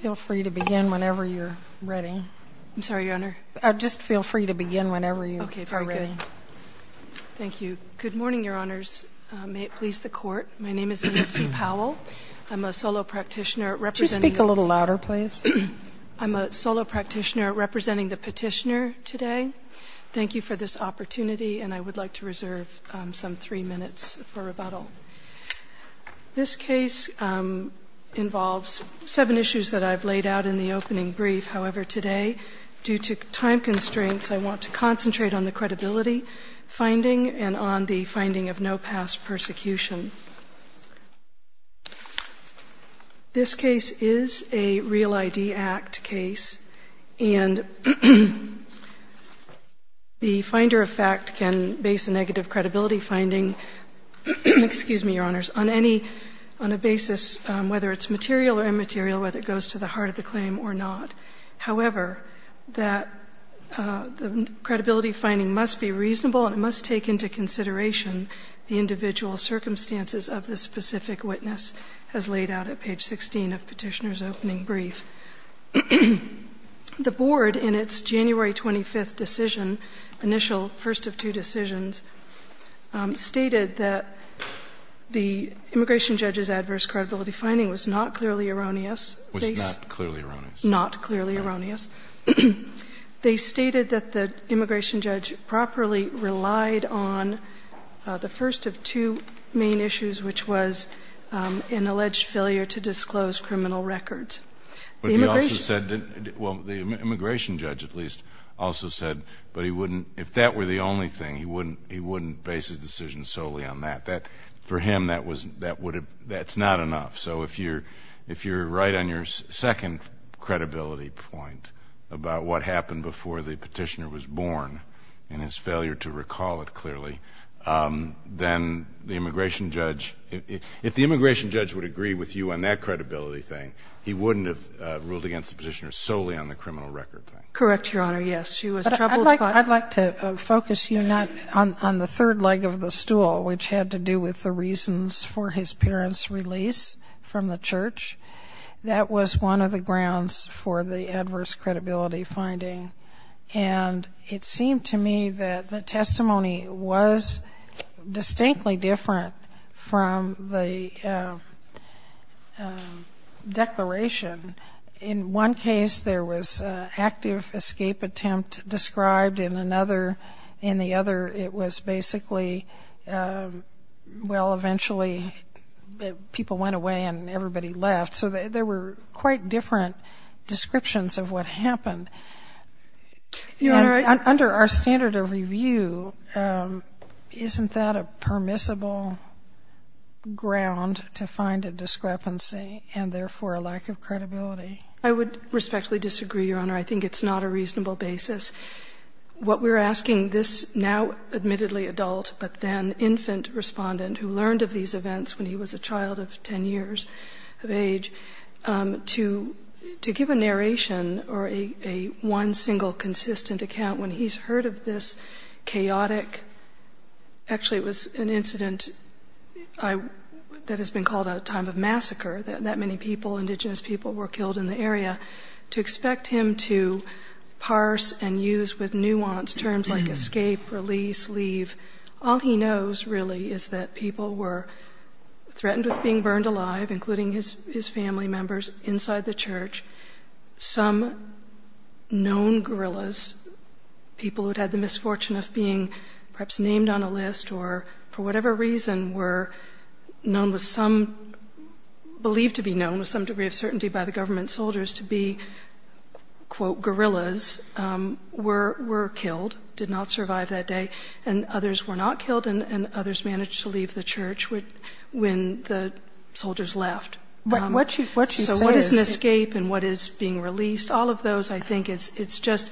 Feel free to begin whenever you're ready. I'm sorry, Your Honor. Just feel free to begin whenever you're ready. Okay, very good. Thank you. Good morning, Your Honors. May it please the Court? My name is Nancy Powell. I'm a solo practitioner representing the petitioner today. Thank you for this opportunity, and I would like to reserve some three minutes for rebuttal. This case involves seven issues that I've laid out in the opening brief. However, today, due to time constraints, I want to concentrate on the credibility finding and on the finding of no past persecution. This case is a Real ID Act case, and the finder of fact can base a negative credibility finding on a basis, whether it's material or immaterial, whether it goes to the heart of the claim or not. However, the credibility finding must be reasonable, and it must take into consideration the individual circumstances of the specific witness as laid out at page 16 of petitioner's opening brief. The Board, in its January 25th decision, initial first of two decisions, stated that the immigration judge's adverse credibility finding was not clearly erroneous. Was not clearly erroneous. Not clearly erroneous. They stated that the immigration judge properly relied on the first of two main issues, which was an alleged failure to disclose criminal records. The immigration judge, at least, also said that if that were the only thing, he wouldn't base his decision solely on that. For him, that's not enough. So if you're right on your second credibility point about what happened before the petitioner was born and his failure to recall it clearly, then the immigration judge, if the immigration judge would agree with you on that credibility thing, he wouldn't have ruled against the petitioner solely on the criminal record thing. Correct, Your Honor, yes. I'd like to focus you not on the third leg of the stool, which had to do with the reasons for his parents' release from the church. That was one of the grounds for the adverse credibility finding. And it seemed to me that the testimony was distinctly different from the declaration. In one case, there was active escape attempt described. In another, in the other, it was basically, well, eventually people went away and everybody left. So there were quite different descriptions of what happened. And under our standard of review, isn't that a permissible ground to find a discrepancy and therefore a lack of credibility? I would respectfully disagree, Your Honor. I think it's not a reasonable basis. What we're asking this now admittedly adult, but then infant respondent who learned of these events when he was a child of 10 years of age, to give a narration or a one single consistent account when he's heard of this chaotic, actually it was an incident that has been called a time of massacre, that many people, indigenous people, were killed in the area, to expect him to parse and use with nuance terms like escape, release, leave. All he knows really is that people were threatened with being burned alive, including his family members inside the church. Some known guerrillas, people who'd had the misfortune of being perhaps named on a list, or for whatever reason were known with some, believed to be known with some degree of certainty by the government soldiers to be, quote, guerrillas, were killed, did not survive that day. And others were not killed, and others managed to leave the church when the soldiers left. So what is an escape and what is being released? All of those, I think, it's just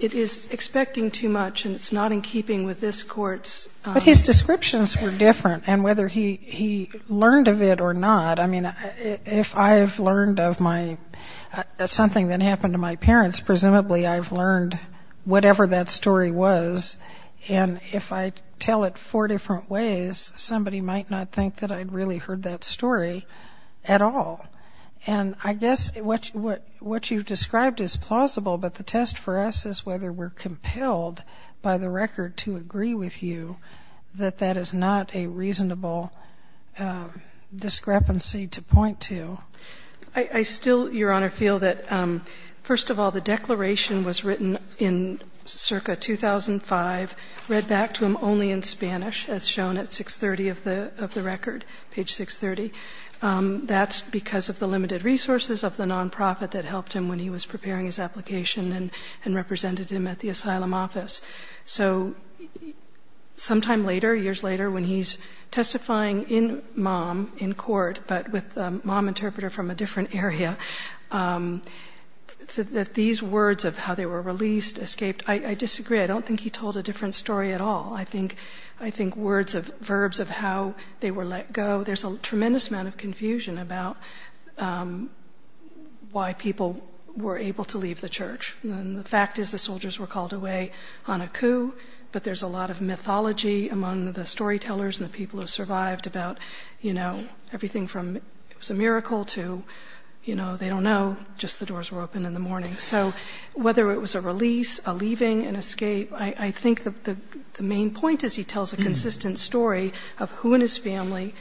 it is expecting too much, and it's not in keeping with this court's. But his descriptions were different, and whether he learned of it or not, I mean, if I've learned of something that happened to my parents, presumably I've learned whatever that story was, and if I tell it four different ways, somebody might not think that I'd really heard that story at all. And I guess what you've described is plausible, but the test for us is whether we're compelled by the record to agree with you that that is not a reasonable discrepancy to point to. I still, Your Honor, feel that, first of all, the declaration was written in circa 2005, read back to him only in Spanish, as shown at 630 of the record, page 630. That's because of the limited resources of the nonprofit that helped him when he was preparing his application and represented him at the asylum office. So sometime later, years later, when he's testifying in mom, in court, but with a mom interpreter from a different area, that these words of how they were released, escaped, I disagree. I don't think he told a different story at all. I think words of verbs of how they were let go, there's a tremendous amount of confusion about why people were able to leave the church. The fact is the soldiers were called away on a coup, but there's a lot of mythology among the storytellers and the people who survived about everything from it was a miracle to they don't know, just the doors were open in the morning. So whether it was a release, a leaving, an escape, I think the main point is he tells a consistent story of who in his family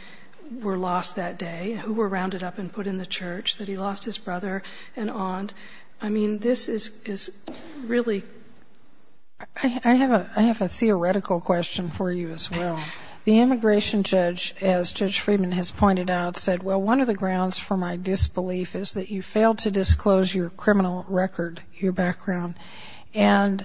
were lost that day, who were rounded up and put in the church, that he lost his brother and aunt. I mean, this is really. I have a theoretical question for you as well. The immigration judge, as Judge Friedman has pointed out, said, well, one of the grounds for my disbelief is that you failed to disclose your criminal record, your background, and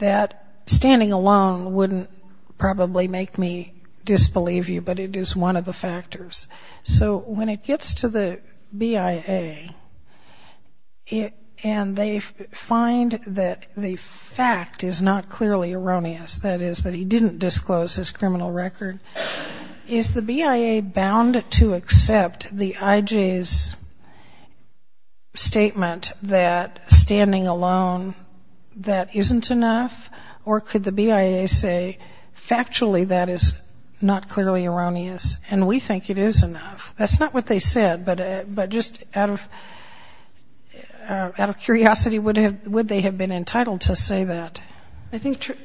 that standing alone wouldn't probably make me disbelieve you, but it is one of the factors. So when it gets to the BIA and they find that the fact is not clearly erroneous, that is that he didn't disclose his criminal record, is the BIA bound to accept the IJ's statement that standing alone, that isn't enough, or could the BIA say factually that is not clearly erroneous, and we think it is enough? That's not what they said, but just out of curiosity, would they have been entitled to say that?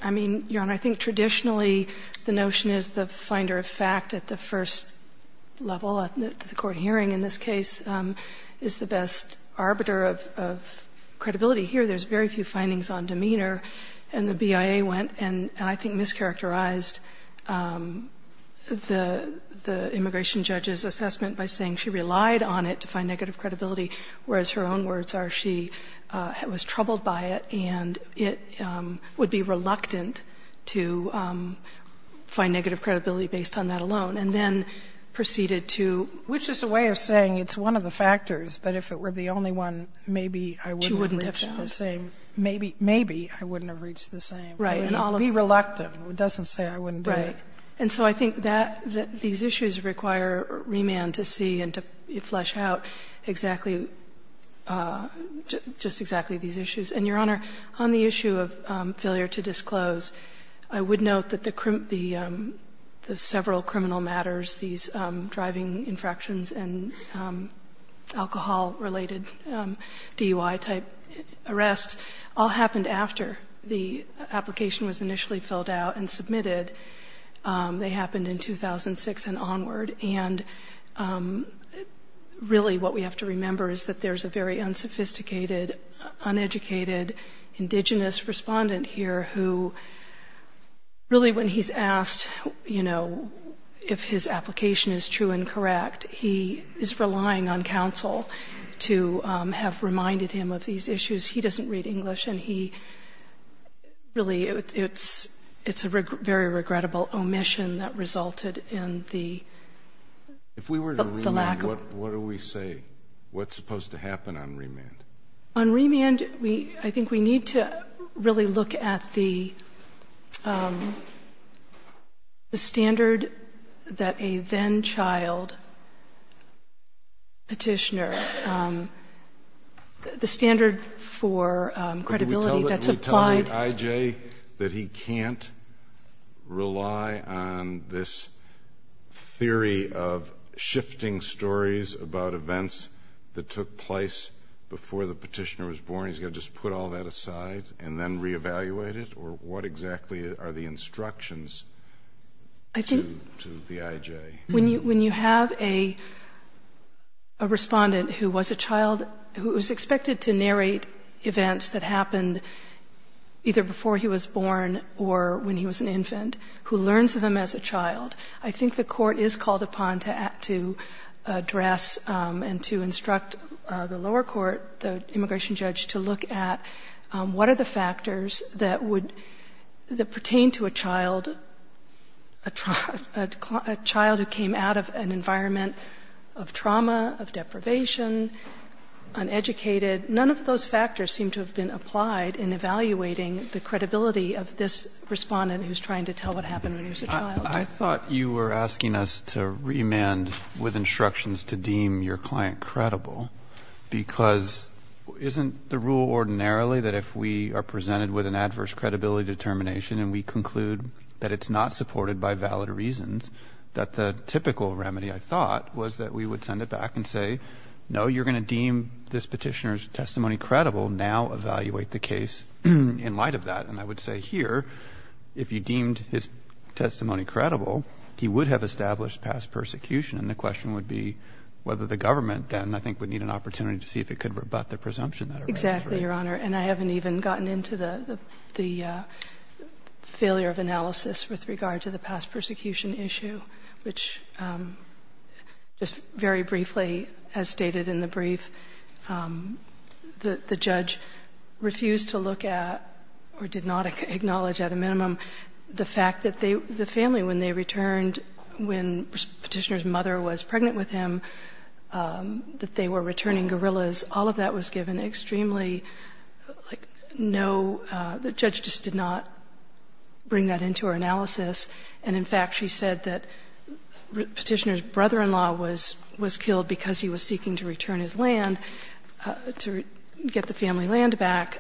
I mean, Your Honor, I think traditionally the notion is the finder of fact at the first level, at the court hearing in this case, is the best arbiter of credibility. Here there's very few findings on demeanor, and the BIA went and I think mischaracterized the immigration judge's assessment by saying she relied on it to find negative credibility, whereas her own words are she was troubled by it and it would be reluctant to find negative credibility based on that alone, and then proceeded to. Which is a way of saying it's one of the factors, but if it were the only one, maybe I wouldn't have reached the same. She wouldn't have found. Maybe I wouldn't have reached the same. Right. Be reluctant. It doesn't say I wouldn't do it. Right. And so I think that these issues require remand to see and to flesh out exactly just exactly these issues. And, Your Honor, on the issue of failure to disclose, I would note that the several criminal matters, these driving infractions and alcohol-related DUI-type arrests all happened after the application was initially filled out and submitted. They happened in 2006 and onward. And really what we have to remember is that there's a very unsophisticated, uneducated, indigenous respondent here who really when he's asked, you know, if his application is true and correct, he is relying on counsel to have reminded him of these issues. He doesn't read English and he really it's a very regrettable omission that resulted in the lack of If we were to remand, what do we say? What's supposed to happen on remand? On remand, I think we need to really look at the standard that a then-child petitioner the standard for credibility that's applied Can we tell the I.J. that he can't rely on this theory of shifting stories about events that took place before the petitioner was born? He's got to just put all that aside and then reevaluate it? Or what exactly are the instructions to the I.J.? When you have a respondent who was a child who was expected to narrate events that happened either before he was born or when he was an infant, who learns of them as a child, I think the court is called upon to address and to instruct the lower court, the immigration judge, to look at what are the factors that pertain to a child who came out of an environment of trauma, of deprivation, uneducated. None of those factors seem to have been applied in evaluating the credibility of this respondent who's trying to tell what happened when he was a child. I thought you were asking us to remand with instructions to deem your client credible because isn't the rule ordinarily that if we are presented with an adverse credibility determination and we conclude that it's not supported by valid reasons, that the typical remedy, I thought, was that we would send it back and say, no, you're going to deem this petitioner's testimony credible, now evaluate the case in light of that. And I would say here, if you deemed his testimony credible, he would have established past persecution. And the question would be whether the government then, I think, would need an opportunity to see if it could rebut the presumption. Exactly, Your Honor. And I haven't even gotten into the failure of analysis with regard to the past persecution issue, which just very briefly, as stated in the brief, the judge refused to look at or did not acknowledge at a minimum the fact that the family, when they returned, when Petitioner's mother was pregnant with him, that they were returning gorillas, all of that was given extremely, like, no, the judge just did not bring that into her analysis. And, in fact, she said that Petitioner's brother-in-law was killed because he was seeking to return his land, to get the family land back.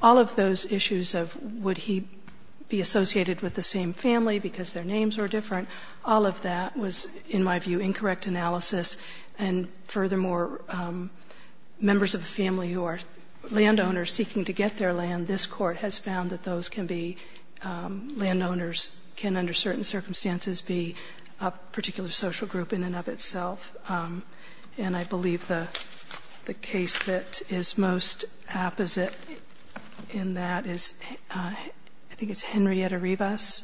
All of those issues of would he be associated with the same family because their names were different, all of that was, in my view, incorrect analysis. And, furthermore, members of the family who are landowners seeking to get their land, this Court has found that those can be landowners, can under certain circumstances be a particular social group in and of itself. And I believe the case that is most apposite in that is, I think it's Henrietta Rivas.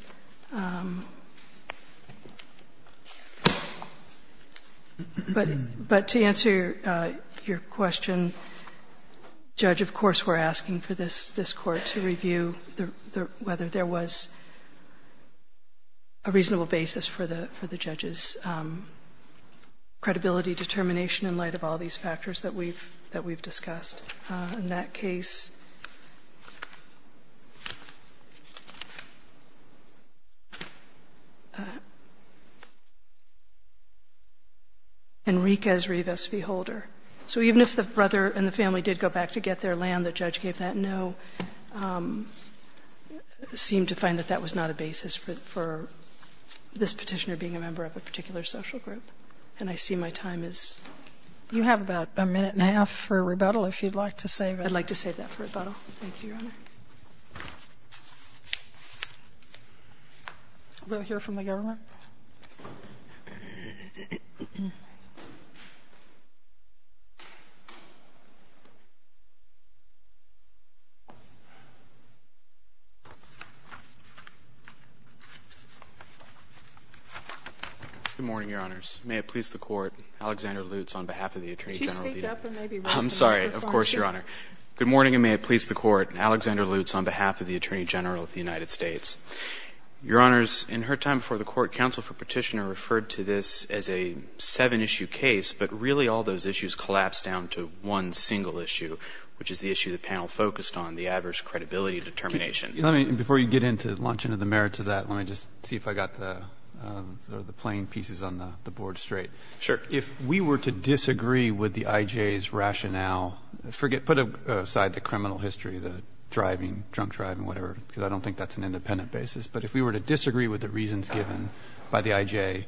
But to answer your question, Judge, of course, we're asking for this Court to review whether there was a reasonable basis for the judge's credibility determination in light of all these factors that we've discussed. In that case, Enriquez Rivas, beholder. So even if the brother and the family did go back to get their land, the judge gave that no, seemed to find that that was not a basis for this Petitioner being a member of a particular social group. And I see my time is up. You have about a minute and a half for rebuttal, if you'd like to save it. I'd like to save that for rebuttal. Thank you, Your Honor. I'm going to hear from the government. Good morning, Your Honors. May it please the Court, Alexander Lutz, on behalf of the Attorney General. Could you speak up and maybe raise the microphone? I'm sorry. Of course, Your Honor. Good morning, and may it please the Court. Alexander Lutz on behalf of the Attorney General of the United States. Your Honors, in her time before the Court, counsel for Petitioner referred to this as a seven-issue case, but really all those issues collapsed down to one single issue, which is the issue the panel focused on, the adverse credibility determination. Before you launch into the merits of that, let me just see if I got the playing pieces on the board straight. Sure. If we were to disagree with the I.J.'s rationale, put aside the criminal history, the driving, drunk driving, whatever, because I don't think that's an independent basis, but if we were to disagree with the reasons given by the I.J.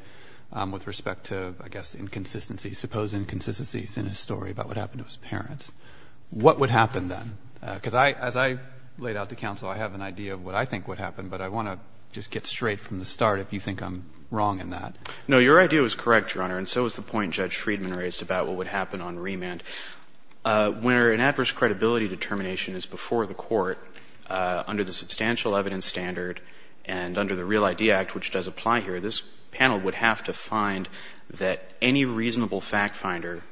with respect to, I guess, inconsistencies, supposed inconsistencies in his story about what happened to his parents, what would happen then? Because as I laid out to counsel, I have an idea of what I think would happen, but I want to just get straight from the start if you think I'm wrong in that. No, your idea was correct, Your Honor, and so was the point Judge Friedman raised about what would happen on remand. Where an adverse credibility determination is before the Court under the substantial evidence standard and under the Real ID Act, which does apply here, this panel would have to find that any reasonable fact finder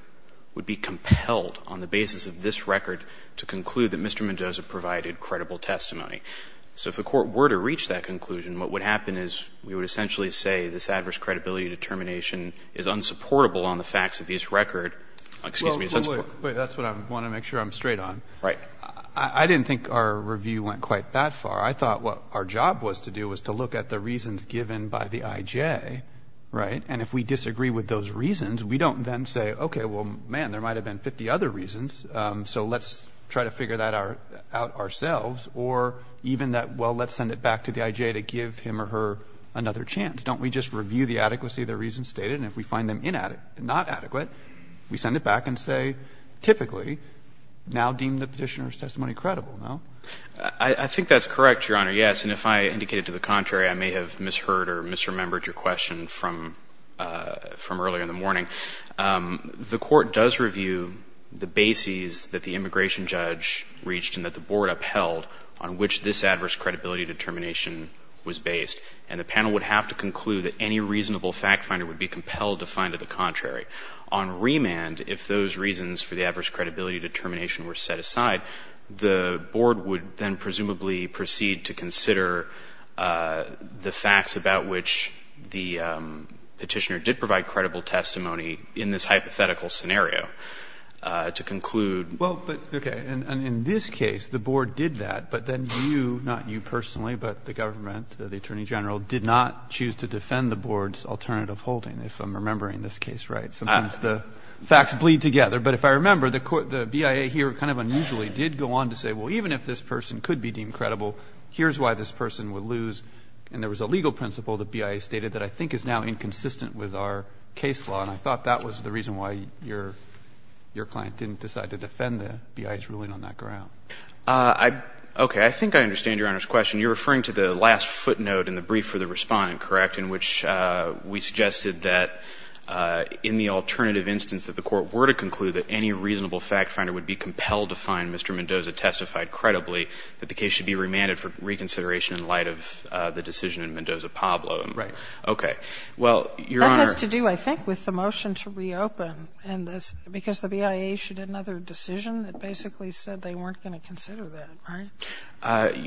would be compelled on the basis of this record to conclude that Mr. Mendoza provided credible testimony. So if the Court were to reach that conclusion, what would happen is we would essentially say this adverse credibility determination is unsupportable on the facts of his record. Excuse me. Wait. That's what I want to make sure I'm straight on. Right. I didn't think our review went quite that far. I thought what our job was to do was to look at the reasons given by the IJ, right, and if we disagree with those reasons, we don't then say, okay, well, man, there might have been 50 other reasons, so let's try to figure that out ourselves, or even that, well, let's send it back to the IJ to give him or her another chance. Don't we just review the adequacy of the reasons stated, and if we find them inadequate and not adequate, we send it back and say, typically, now deem the Petitioner's testimony credible, no? I think that's correct, Your Honor, yes, and if I indicated to the contrary, I may have misheard or misremembered your question from earlier in the morning. The Court does review the bases that the immigration judge reached and that the Board upheld on which this adverse credibility determination was based, and the panel would have to conclude that any reasonable fact finder would be compelled to find to the contrary. On remand, if those reasons for the adverse credibility determination were set aside, the Board would then presumably proceed to consider the facts about which the Petitioner did provide credible testimony in this hypothetical scenario to conclude. Well, but, okay, and in this case, the Board did that, but then you, not you personally, but the government, the Attorney General, did not choose to defend the Board's alternative holding, if I'm remembering this case right. Sometimes the facts bleed together, but if I remember, the BIA here kind of unusually did go on to say, well, even if this person could be deemed credible, here's why this person would lose. And there was a legal principle that BIA stated that I think is now inconsistent with our case law, and I thought that was the reason why your client didn't decide to defend the BIA's ruling on that ground. Okay. I think I understand Your Honor's question. You're referring to the last footnote in the brief for the Respondent, correct, in which we suggested that in the alternative instance that the Court were to conclude that any reasonable fact finder would be compelled to find Mr. Mendoza testified credibly, that the case should be remanded for reconsideration in light of the decision in Mendoza-Pablo. Right. Okay. Well, Your Honor. But that has to do, I think, with the motion to reopen and this, because the BIA issued another decision that basically said they weren't going to consider that, right?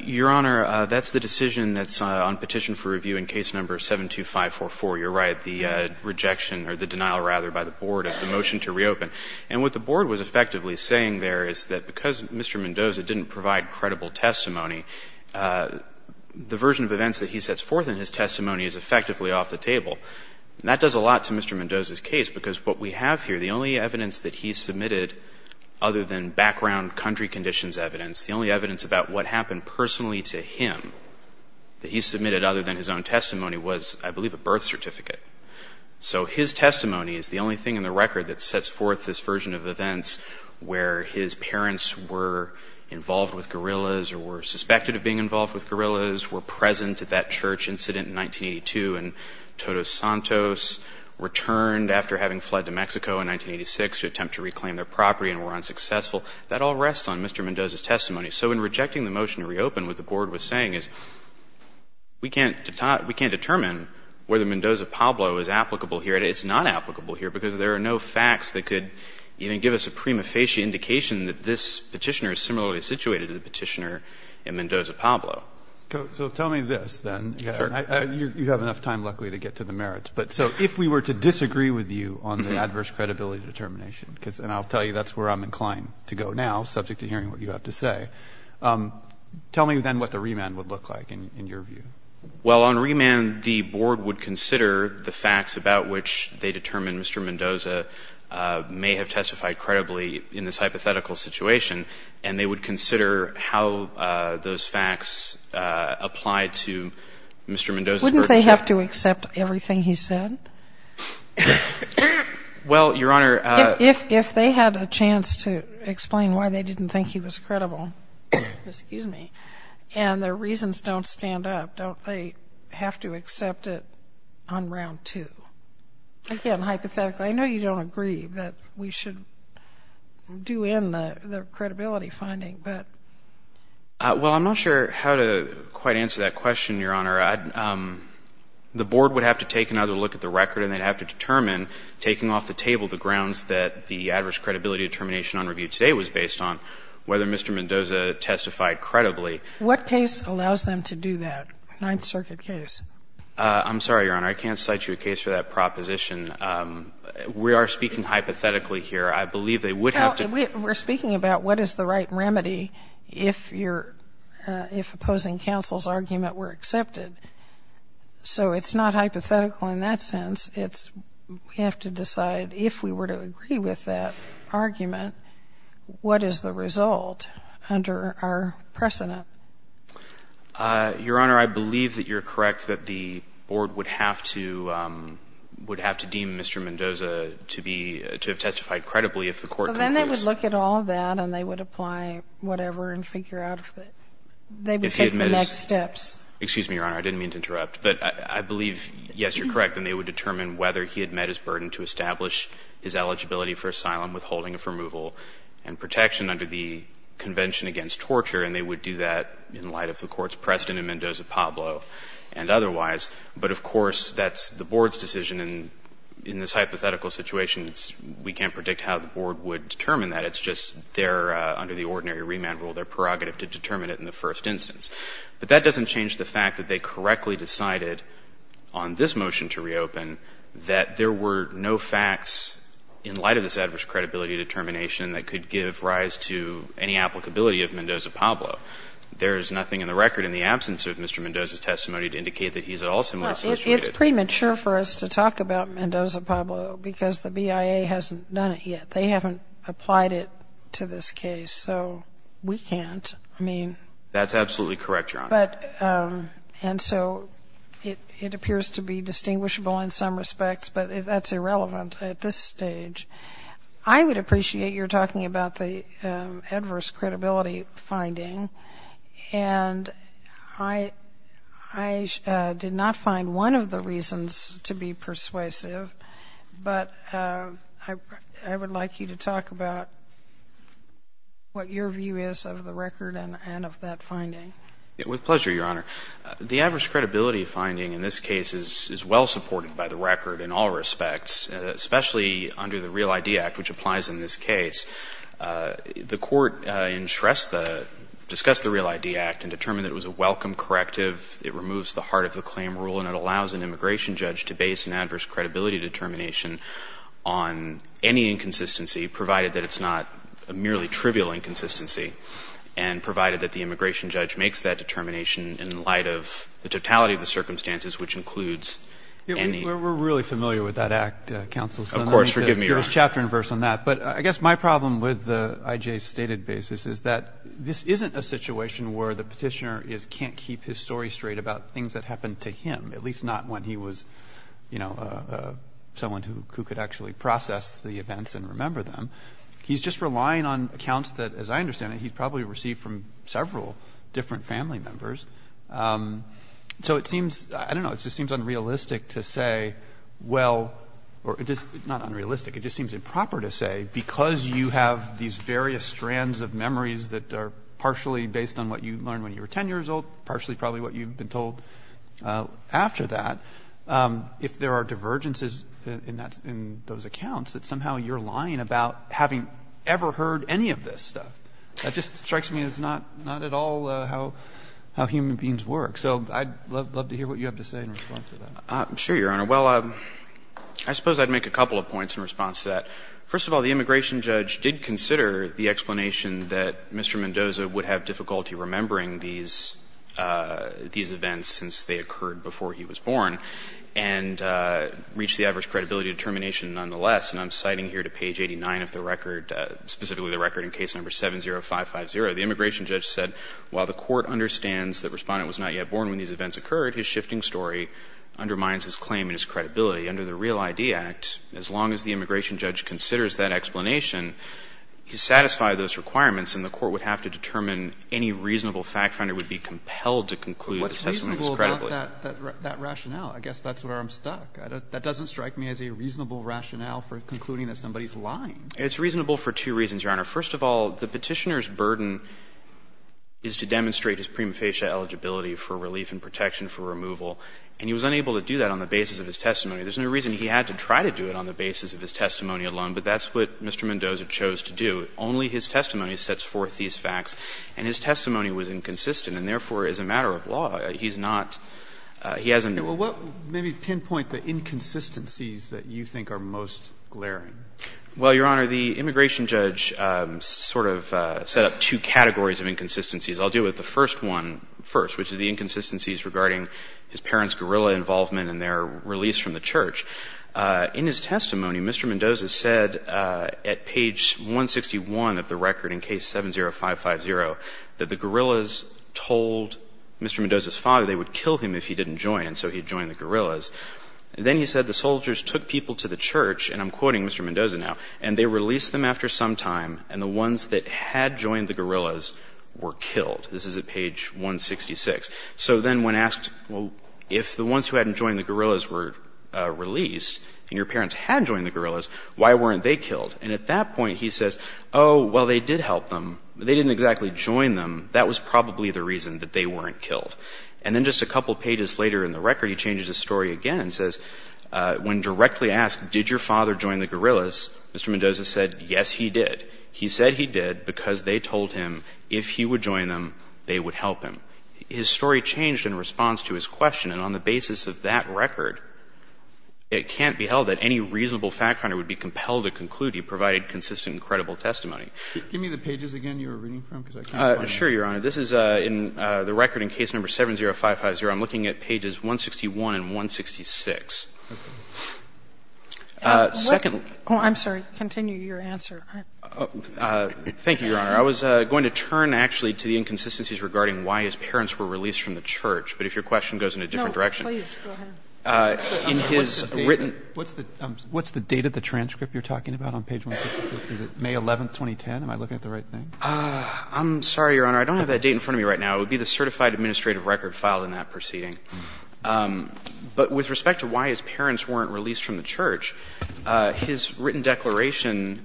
Your Honor, that's the decision that's on Petition for Review in case number 72544. You're right. The rejection or the denial, rather, by the Board of the motion to reopen. And what the Board was effectively saying there is that because Mr. Mendoza didn't provide credible testimony, the version of events that he sets forth in his testimony is effectively off the table. And that does a lot to Mr. Mendoza's case, because what we have here, the only evidence that he submitted other than background country conditions evidence, the only evidence about what happened personally to him that he submitted other than his own testimony was, I believe, a birth certificate. So his testimony is the only thing in the record that sets forth this version of events where his parents were involved with guerrillas or were suspected of being involved with guerrillas, were present at that church incident in 1982, and Todos Santos returned after having fled to Mexico in 1986 to attempt to reclaim their property and were unsuccessful. That all rests on Mr. Mendoza's testimony. So in rejecting the motion to reopen, what the Board was saying is we can't determine whether Mendoza-Pablo is applicable here. It's not applicable here because there are no facts that could even give us a prima facie indication that this Petitioner is similarly situated to the Petitioner in Mendoza-Pablo. So tell me this, then. Sure. You have enough time, luckily, to get to the merits. So if we were to disagree with you on the adverse credibility determination, and I'll tell you that's where I'm inclined to go now, subject to hearing what you have to say, tell me then what the remand would look like in your view. Well, on remand, the Board would consider the facts about which they determined Mr. Mendoza may have testified credibly in this hypothetical situation, and they would consider how those facts apply to Mr. Mendoza's verdict. Wouldn't they have to accept everything he said? Well, Your Honor — If they had a chance to explain why they didn't think he was credible, excuse me, and their reasons don't stand up, don't they have to accept it on round two? Again, hypothetically, I know you don't agree that we should do in the credibility finding, but — Well, I'm not sure how to quite answer that question, Your Honor. The Board would have to take another look at the record, and they'd have to determine, taking off the table the grounds that the adverse credibility determination on review today was based on, whether Mr. Mendoza testified credibly. What case allows them to do that, Ninth Circuit case? I'm sorry, Your Honor. I can't cite you a case for that proposition. We are speaking hypothetically here. I believe they would have to — We're speaking about what is the right remedy if you're — if opposing counsel's argument were accepted. So it's not hypothetical in that sense. It's — we have to decide if we were to agree with that argument, what is the result under our precedent? Your Honor, I believe that you're correct that the Board would have to — would have to deem Mr. Mendoza to be — to have testified credibly if the court concludes that Mr. Mendoza testified credibly. And they would have to look at all that, and they would apply whatever and figure out if they would take the next steps. Excuse me, Your Honor. I didn't mean to interrupt. But I believe, yes, you're correct. And they would determine whether he had met his burden to establish his eligibility for asylum, withholding of removal, and protection under the Convention Against Torture. And they would do that in light of the court's precedent in Mendoza-Pablo and otherwise. But, of course, that's the Board's decision. And in this hypothetical situation, it's — we can't predict how the Board would determine that. It's just their — under the ordinary remand rule, their prerogative to determine it in the first instance. But that doesn't change the fact that they correctly decided on this motion to reopen that there were no facts in light of this adverse credibility determination that could give rise to any applicability of Mendoza-Pablo. There is nothing in the record in the absence of Mr. Mendoza's testimony to indicate that he's at all similarly frustrated. Well, it's premature for us to talk about Mendoza-Pablo because the BIA hasn't done it yet. They haven't applied it to this case. So we can't. I mean — That's absolutely correct, Your Honor. But — and so it appears to be distinguishable in some respects. But that's irrelevant at this stage. I would appreciate your talking about the adverse credibility finding. And I did not find one of the reasons to be persuasive, but I would like you to talk about what your view is of the record and of that finding. With pleasure, Your Honor. The adverse credibility finding in this case is well supported by the record in all respects, especially under the REAL ID Act, which applies in this case. The court in Shrestha discussed the REAL ID Act and determined that it was a welcome corrective. It removes the heart of the claim rule, and it allows an immigration judge to base an adverse credibility determination on any inconsistency, provided that it's not a merely trivial inconsistency, and provided that the immigration judge makes that determination in light of the totality of the circumstances, which includes any — We're really familiar with that act, Counsel. Of course. Forgive me, Your Honor. But I guess my problem with I.J.'s stated basis is that this isn't a situation where the petitioner can't keep his story straight about things that happened to him, at least not when he was, you know, someone who could actually process the events and remember them. He's just relying on accounts that, as I understand it, he probably received from several different family members. So it seems — I don't know. It just seems unrealistic to say, well — or it is not unrealistic. It just seems improper to say, because you have these various strands of memories that are partially based on what you learned when you were 10 years old, partially probably what you've been told after that, if there are divergences in those accounts, that somehow you're lying about having ever heard any of this stuff. That just strikes me as not at all how human beings work. So I'd love to hear what you have to say in response to that. Sure, Your Honor. Well, I suppose I'd make a couple of points in response to that. First of all, the immigration judge did consider the explanation that Mr. Mendoza would have difficulty remembering these events since they occurred before he was born and reached the average credibility determination nonetheless. And I'm citing here to page 89 of the record, specifically the record in case number 70550. The immigration judge said, while the court understands that Respondent was not yet born when these events occurred, his shifting story undermines his claim and his credibility. Under the Real ID Act, as long as the immigration judge considers that explanation, he's satisfied those requirements and the court would have to determine any reasonable fact finder would be compelled to conclude the testimony was credible. Well, what's reasonable about that rationale? I guess that's where I'm stuck. That doesn't strike me as a reasonable rationale for concluding that somebody's lying. It's reasonable for two reasons, Your Honor. First of all, the Petitioner's burden is to demonstrate his prima facie eligibility for relief and protection for removal, and he was unable to do that on the basis of his testimony. There's no reason he had to try to do it on the basis of his testimony alone, but that's what Mr. Mendoza chose to do. Only his testimony sets forth these facts, and his testimony was inconsistent and, therefore, as a matter of law, he's not — he hasn't — Well, what — maybe pinpoint the inconsistencies that you think are most glaring. Well, Your Honor, the immigration judge sort of set up two categories of inconsistencies. I'll deal with the first one first, which is the inconsistencies regarding his parents' guerrilla involvement in their release from the church. In his testimony, Mr. Mendoza said at page 161 of the record in case 70550 that the guerrillas told Mr. Mendoza's father they would kill him if he didn't join, and so he joined the guerrillas. And then he said the soldiers took people to the church, and I'm quoting Mr. Mendoza now, and they released them after some time, and the ones that had joined the guerrillas were killed. This is at page 166. So then when asked, well, if the ones who hadn't joined the guerrillas were released and your parents had joined the guerrillas, why weren't they killed? And at that point, he says, oh, well, they did help them, but they didn't exactly join them. That was probably the reason that they weren't killed. And then just a couple pages later in the record, he changes his story again and says, when directly asked, did your father join the guerrillas, Mr. Mendoza said, yes, he did. He said he did because they told him if he would join them, they would help him. His story changed in response to his question, and on the basis of that record, it can't be held that any reasonable fact finder would be compelled to conclude he provided consistent and credible testimony. Give me the pages again you were reading from because I can't find them. Sure, Your Honor. This is in the record in case number 70550. I'm looking at pages 161 and 166. I'm sorry. Continue your answer. Thank you, Your Honor. I was going to turn actually to the inconsistencies regarding why his parents were released from the church, but if your question goes in a different direction. No, please. Go ahead. What's the date of the transcript you're talking about on page 166? Is it May 11, 2010? Am I looking at the right thing? I'm sorry, Your Honor. I don't have that date in front of me right now. It would be the certified administrative record filed in that proceeding. But with respect to why his parents weren't released from the church, his written declaration,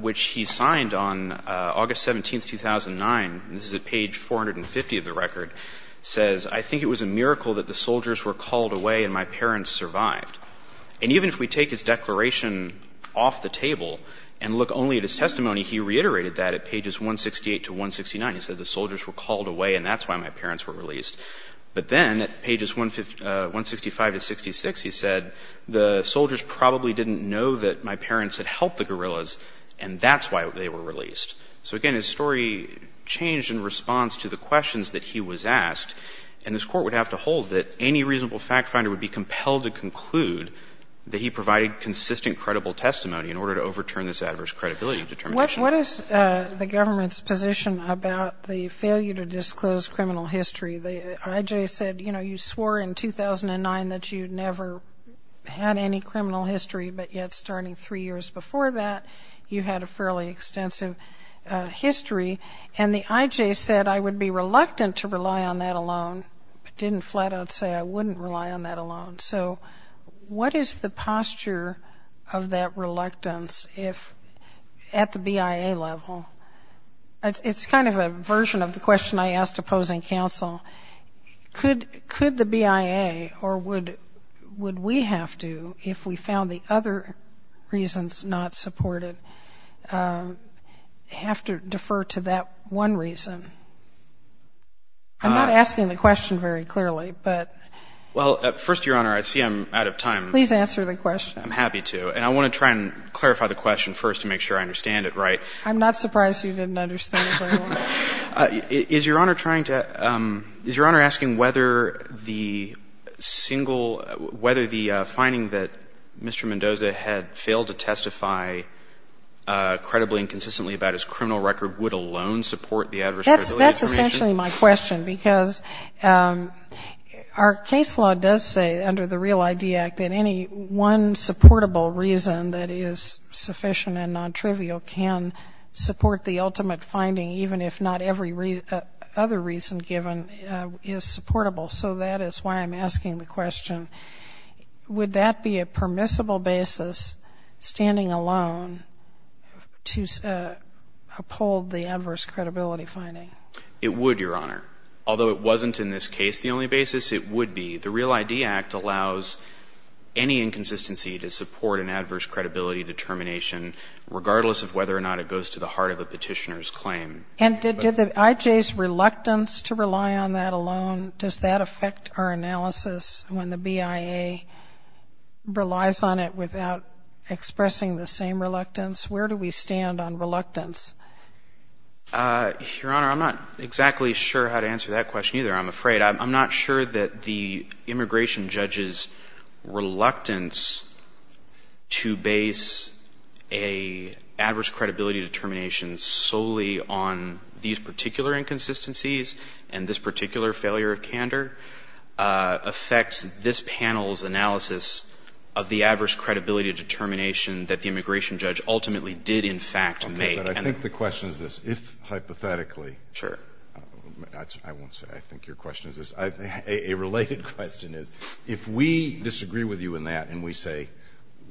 which he signed on August 17, 2009, this is at page 450 of the record, says, I think it was a miracle that the soldiers were called away and my parents survived. And even if we take his declaration off the table and look only at his testimony, he reiterated that at pages 168 to 169. He said the soldiers were called away and that's why my parents were released. But then at pages 165 to 166, he said the soldiers probably didn't know that my parents had helped the guerrillas and that's why they were released. So, again, his story changed in response to the questions that he was asked. And this Court would have to hold that any reasonable fact finder would be compelled to conclude that he provided consistent credible testimony in order to overturn this adverse credibility determination. What is the government's position about the failure to disclose criminal history? The IJ said, you know, you swore in 2009 that you'd never had any criminal history, but yet starting three years before that, you had a fairly extensive history. And the IJ said, I would be reluctant to rely on that alone, but didn't flat out say I wouldn't rely on that alone. So what is the posture of that reluctance at the BIA level? It's kind of a version of the question I asked opposing counsel. Could the BIA or would we have to, if we found the other reasons not supported, have to defer to that one reason? I'm not asking the question very clearly, but. Well, first, Your Honor, I see I'm out of time. Please answer the question. I'm happy to. And I want to try and clarify the question first to make sure I understand it right. I'm not surprised you didn't understand it very well. Is Your Honor trying to, is Your Honor asking whether the single, whether the finding that Mr. Mendoza had failed to testify credibly and consistently about his criminal record would alone support the adverse credibility determination? That's actually my question because our case law does say under the Real ID Act that any one supportable reason that is sufficient and non-trivial can support the ultimate finding, even if not every other reason given is supportable. Would that be a permissible basis, standing alone, to uphold the adverse credibility finding? It would, Your Honor. Although it wasn't in this case the only basis, it would be. The Real ID Act allows any inconsistency to support an adverse credibility determination, regardless of whether or not it goes to the heart of the petitioner's claim. And did the IJ's reluctance to rely on that alone, does that affect our analysis when the BIA relies on it without expressing the same reluctance? Where do we stand on reluctance? Your Honor, I'm not exactly sure how to answer that question either, I'm afraid. I'm not sure that the immigration judge's reluctance to base an adverse credibility determination solely on these particular inconsistencies and this particular failure of candor affects this panel's analysis of the adverse credibility determination that the immigration judge ultimately did in fact make. Okay, but I think the question is this. If, hypothetically, I won't say I think your question is this, a related question is if we disagree with you in that and we say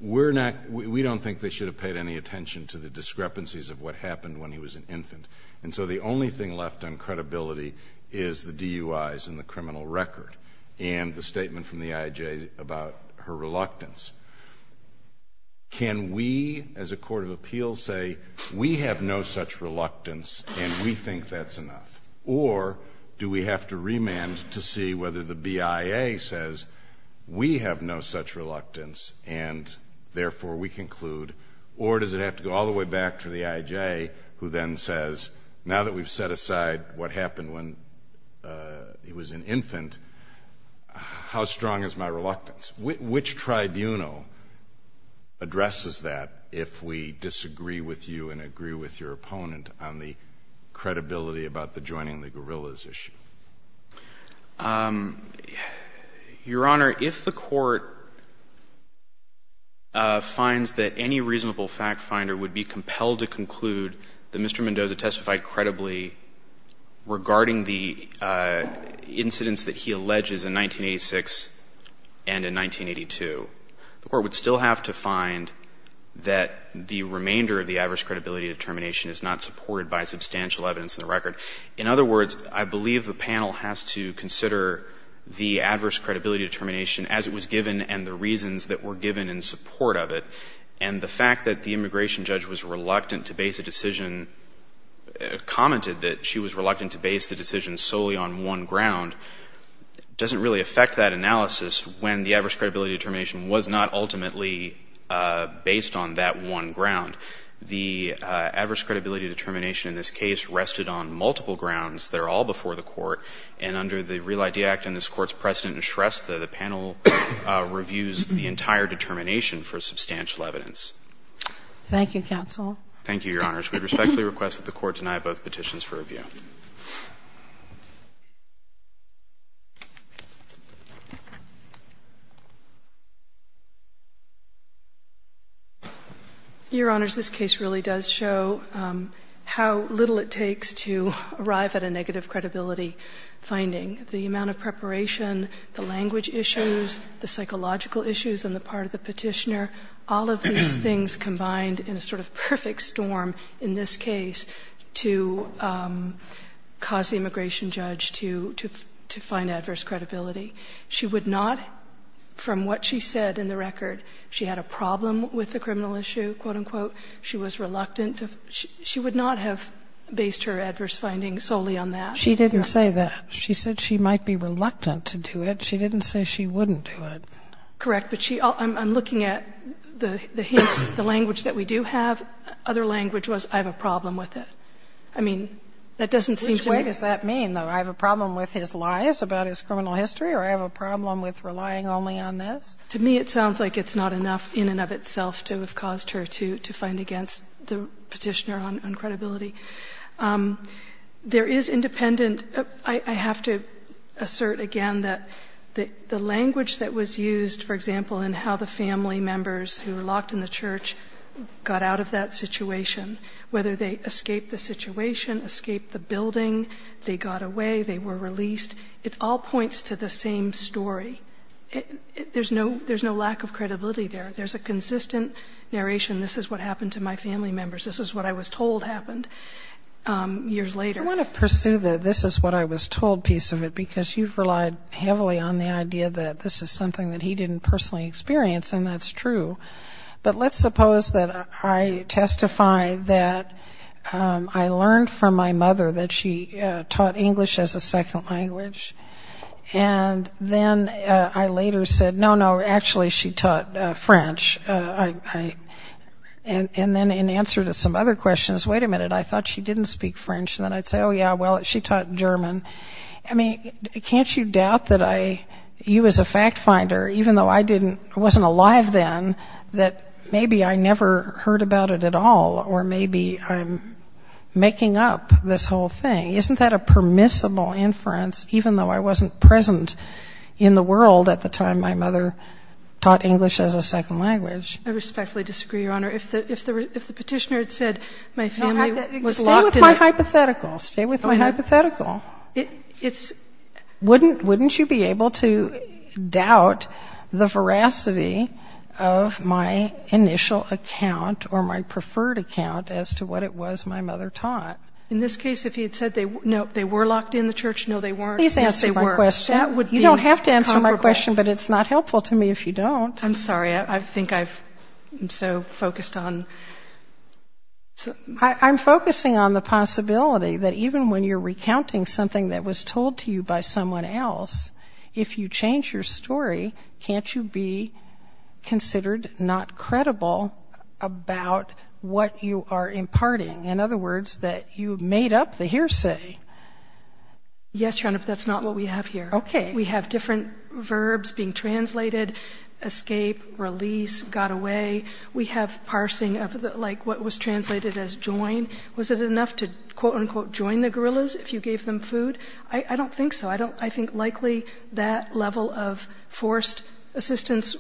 we're not, we don't think they should have paid any attention to the discrepancies of what happened when he was an infant. And so the only thing left on credibility is the DUIs and the criminal record and the statement from the IJ about her reluctance. Can we, as a court of appeals, say we have no such reluctance and we think that's enough? Or do we have to remand to see whether the BIA says we have no such reluctance and therefore we conclude, or does it have to go all the way back to the IJ who then says, now that we've set aside what happened when he was an infant, how strong is my reluctance? Which tribunal addresses that if we disagree with you and agree with your opponent on the credibility about the joining the guerrillas issue? Your Honor, if the Court finds that any reasonable fact finder would be compelled to conclude that Mr. Mendoza testified credibly regarding the incidents that he alleges in 1986 and in 1982, the Court would still have to find that the remainder of the adverse credibility determination is not supported by substantial evidence in the record. In other words, I believe the panel has to consider the adverse credibility determination as it was given and the reasons that were given in support of it. And the fact that the immigration judge was reluctant to base a decision, commented that she was reluctant to base the decision solely on one ground, doesn't really affect that analysis when the adverse credibility determination was not ultimately based on that one ground. The adverse credibility determination in this case rested on multiple grounds that are all before the Court. And under the Real ID Act and this Court's precedent in Shrestha, the panel reviews the entire determination for substantial evidence. Thank you, counsel. Thank you, Your Honors. We respectfully request that the Court deny both petitions for review. Thank you. Your Honors, this case really does show how little it takes to arrive at a negative credibility finding. The amount of preparation, the language issues, the psychological issues on the part of the Petitioner, all of these things combined in a sort of perfect storm in this case to cause the immigration judge to find adverse credibility. She would not, from what she said in the record, she had a problem with the criminal issue, quote, unquote. She was reluctant. She would not have based her adverse findings solely on that. She didn't say that. She said she might be reluctant to do it. She didn't say she wouldn't do it. Correct. But I'm looking at the hints, the language that we do have. That other language was, I have a problem with it. I mean, that doesn't seem to me. Which way does that mean, though? I have a problem with his lies about his criminal history or I have a problem with relying only on this? To me, it sounds like it's not enough in and of itself to have caused her to find against the Petitioner on credibility. There is independent. I have to assert again that the language that was used, for example, in how the family members who were locked in the church got out of that situation, whether they escaped the situation, escaped the building, they got away, they were released, it all points to the same story. There's no lack of credibility there. There's a consistent narration, this is what happened to my family members. This is what I was told happened years later. I want to pursue the this is what I was told piece of it because you've relied heavily on the idea that this is something that he didn't personally experience and that's true. But let's suppose that I testify that I learned from my mother that she taught English as a second language and then I later said, no, no, actually she taught French. And then in answer to some other questions, wait a minute, I thought she didn't speak French and then I'd say, oh, yeah, well, she taught German. I mean, can't you doubt that you as a fact finder, even though I wasn't alive then, that maybe I never heard about it at all or maybe I'm making up this whole thing. Isn't that a permissible inference, even though I wasn't present in the world at the time my mother taught English as a second language? I respectfully disagree, Your Honor. If the petitioner had said my family was locked in a... Wouldn't you be able to doubt the veracity of my initial account or my preferred account as to what it was my mother taught? In this case, if he had said they were locked in the church, no, they weren't. Please answer my question. You don't have to answer my question, but it's not helpful to me if you don't. I'm sorry, I think I'm so focused on... I'm focusing on the possibility that even when you're recounting something that was told to you by someone else, if you change your story, can't you be considered not credible about what you are imparting? In other words, that you made up the hearsay. Yes, Your Honor, but that's not what we have here. Okay. We have different verbs being translated, escape, release, got away. We have parsing of, like, what was translated as join. Was it enough to, quote-unquote, join the guerrillas if you gave them food? I don't think so. I think likely that level of forced assistance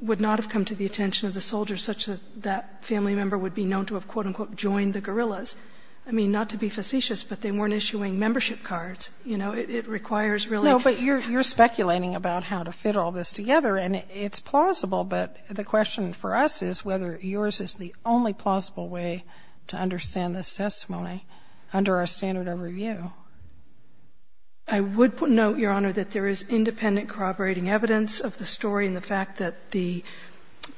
would not have come to the attention of the soldier such that that family member would be known to have, quote-unquote, joined the guerrillas. I mean, not to be facetious, but they weren't issuing membership cards. You know, it requires really... No, but you're speculating about how to fit all this together, and it's plausible, but the question for us is whether yours is the only plausible way to understand this testimony under our standard of review. I would note, Your Honor, that there is independent corroborating evidence of the story and the fact that the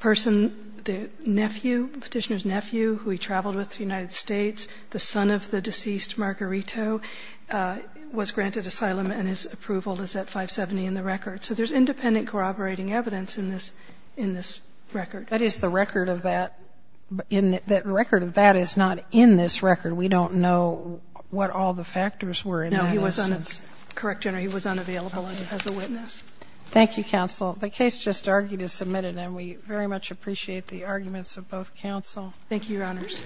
person, the nephew, the Petitioner's nephew who he traveled with to the United States, the son of the deceased Margarito, was granted asylum and his approval is at 570 in the record. So there's independent corroborating evidence in this record. That is the record of that. The record of that is not in this record. We don't know what all the factors were in that instance. No, he was unavailable as a witness. Thank you, Counsel. The case just argued is submitted, and we very much appreciate the arguments of both counsel. Thank you, Your Honors.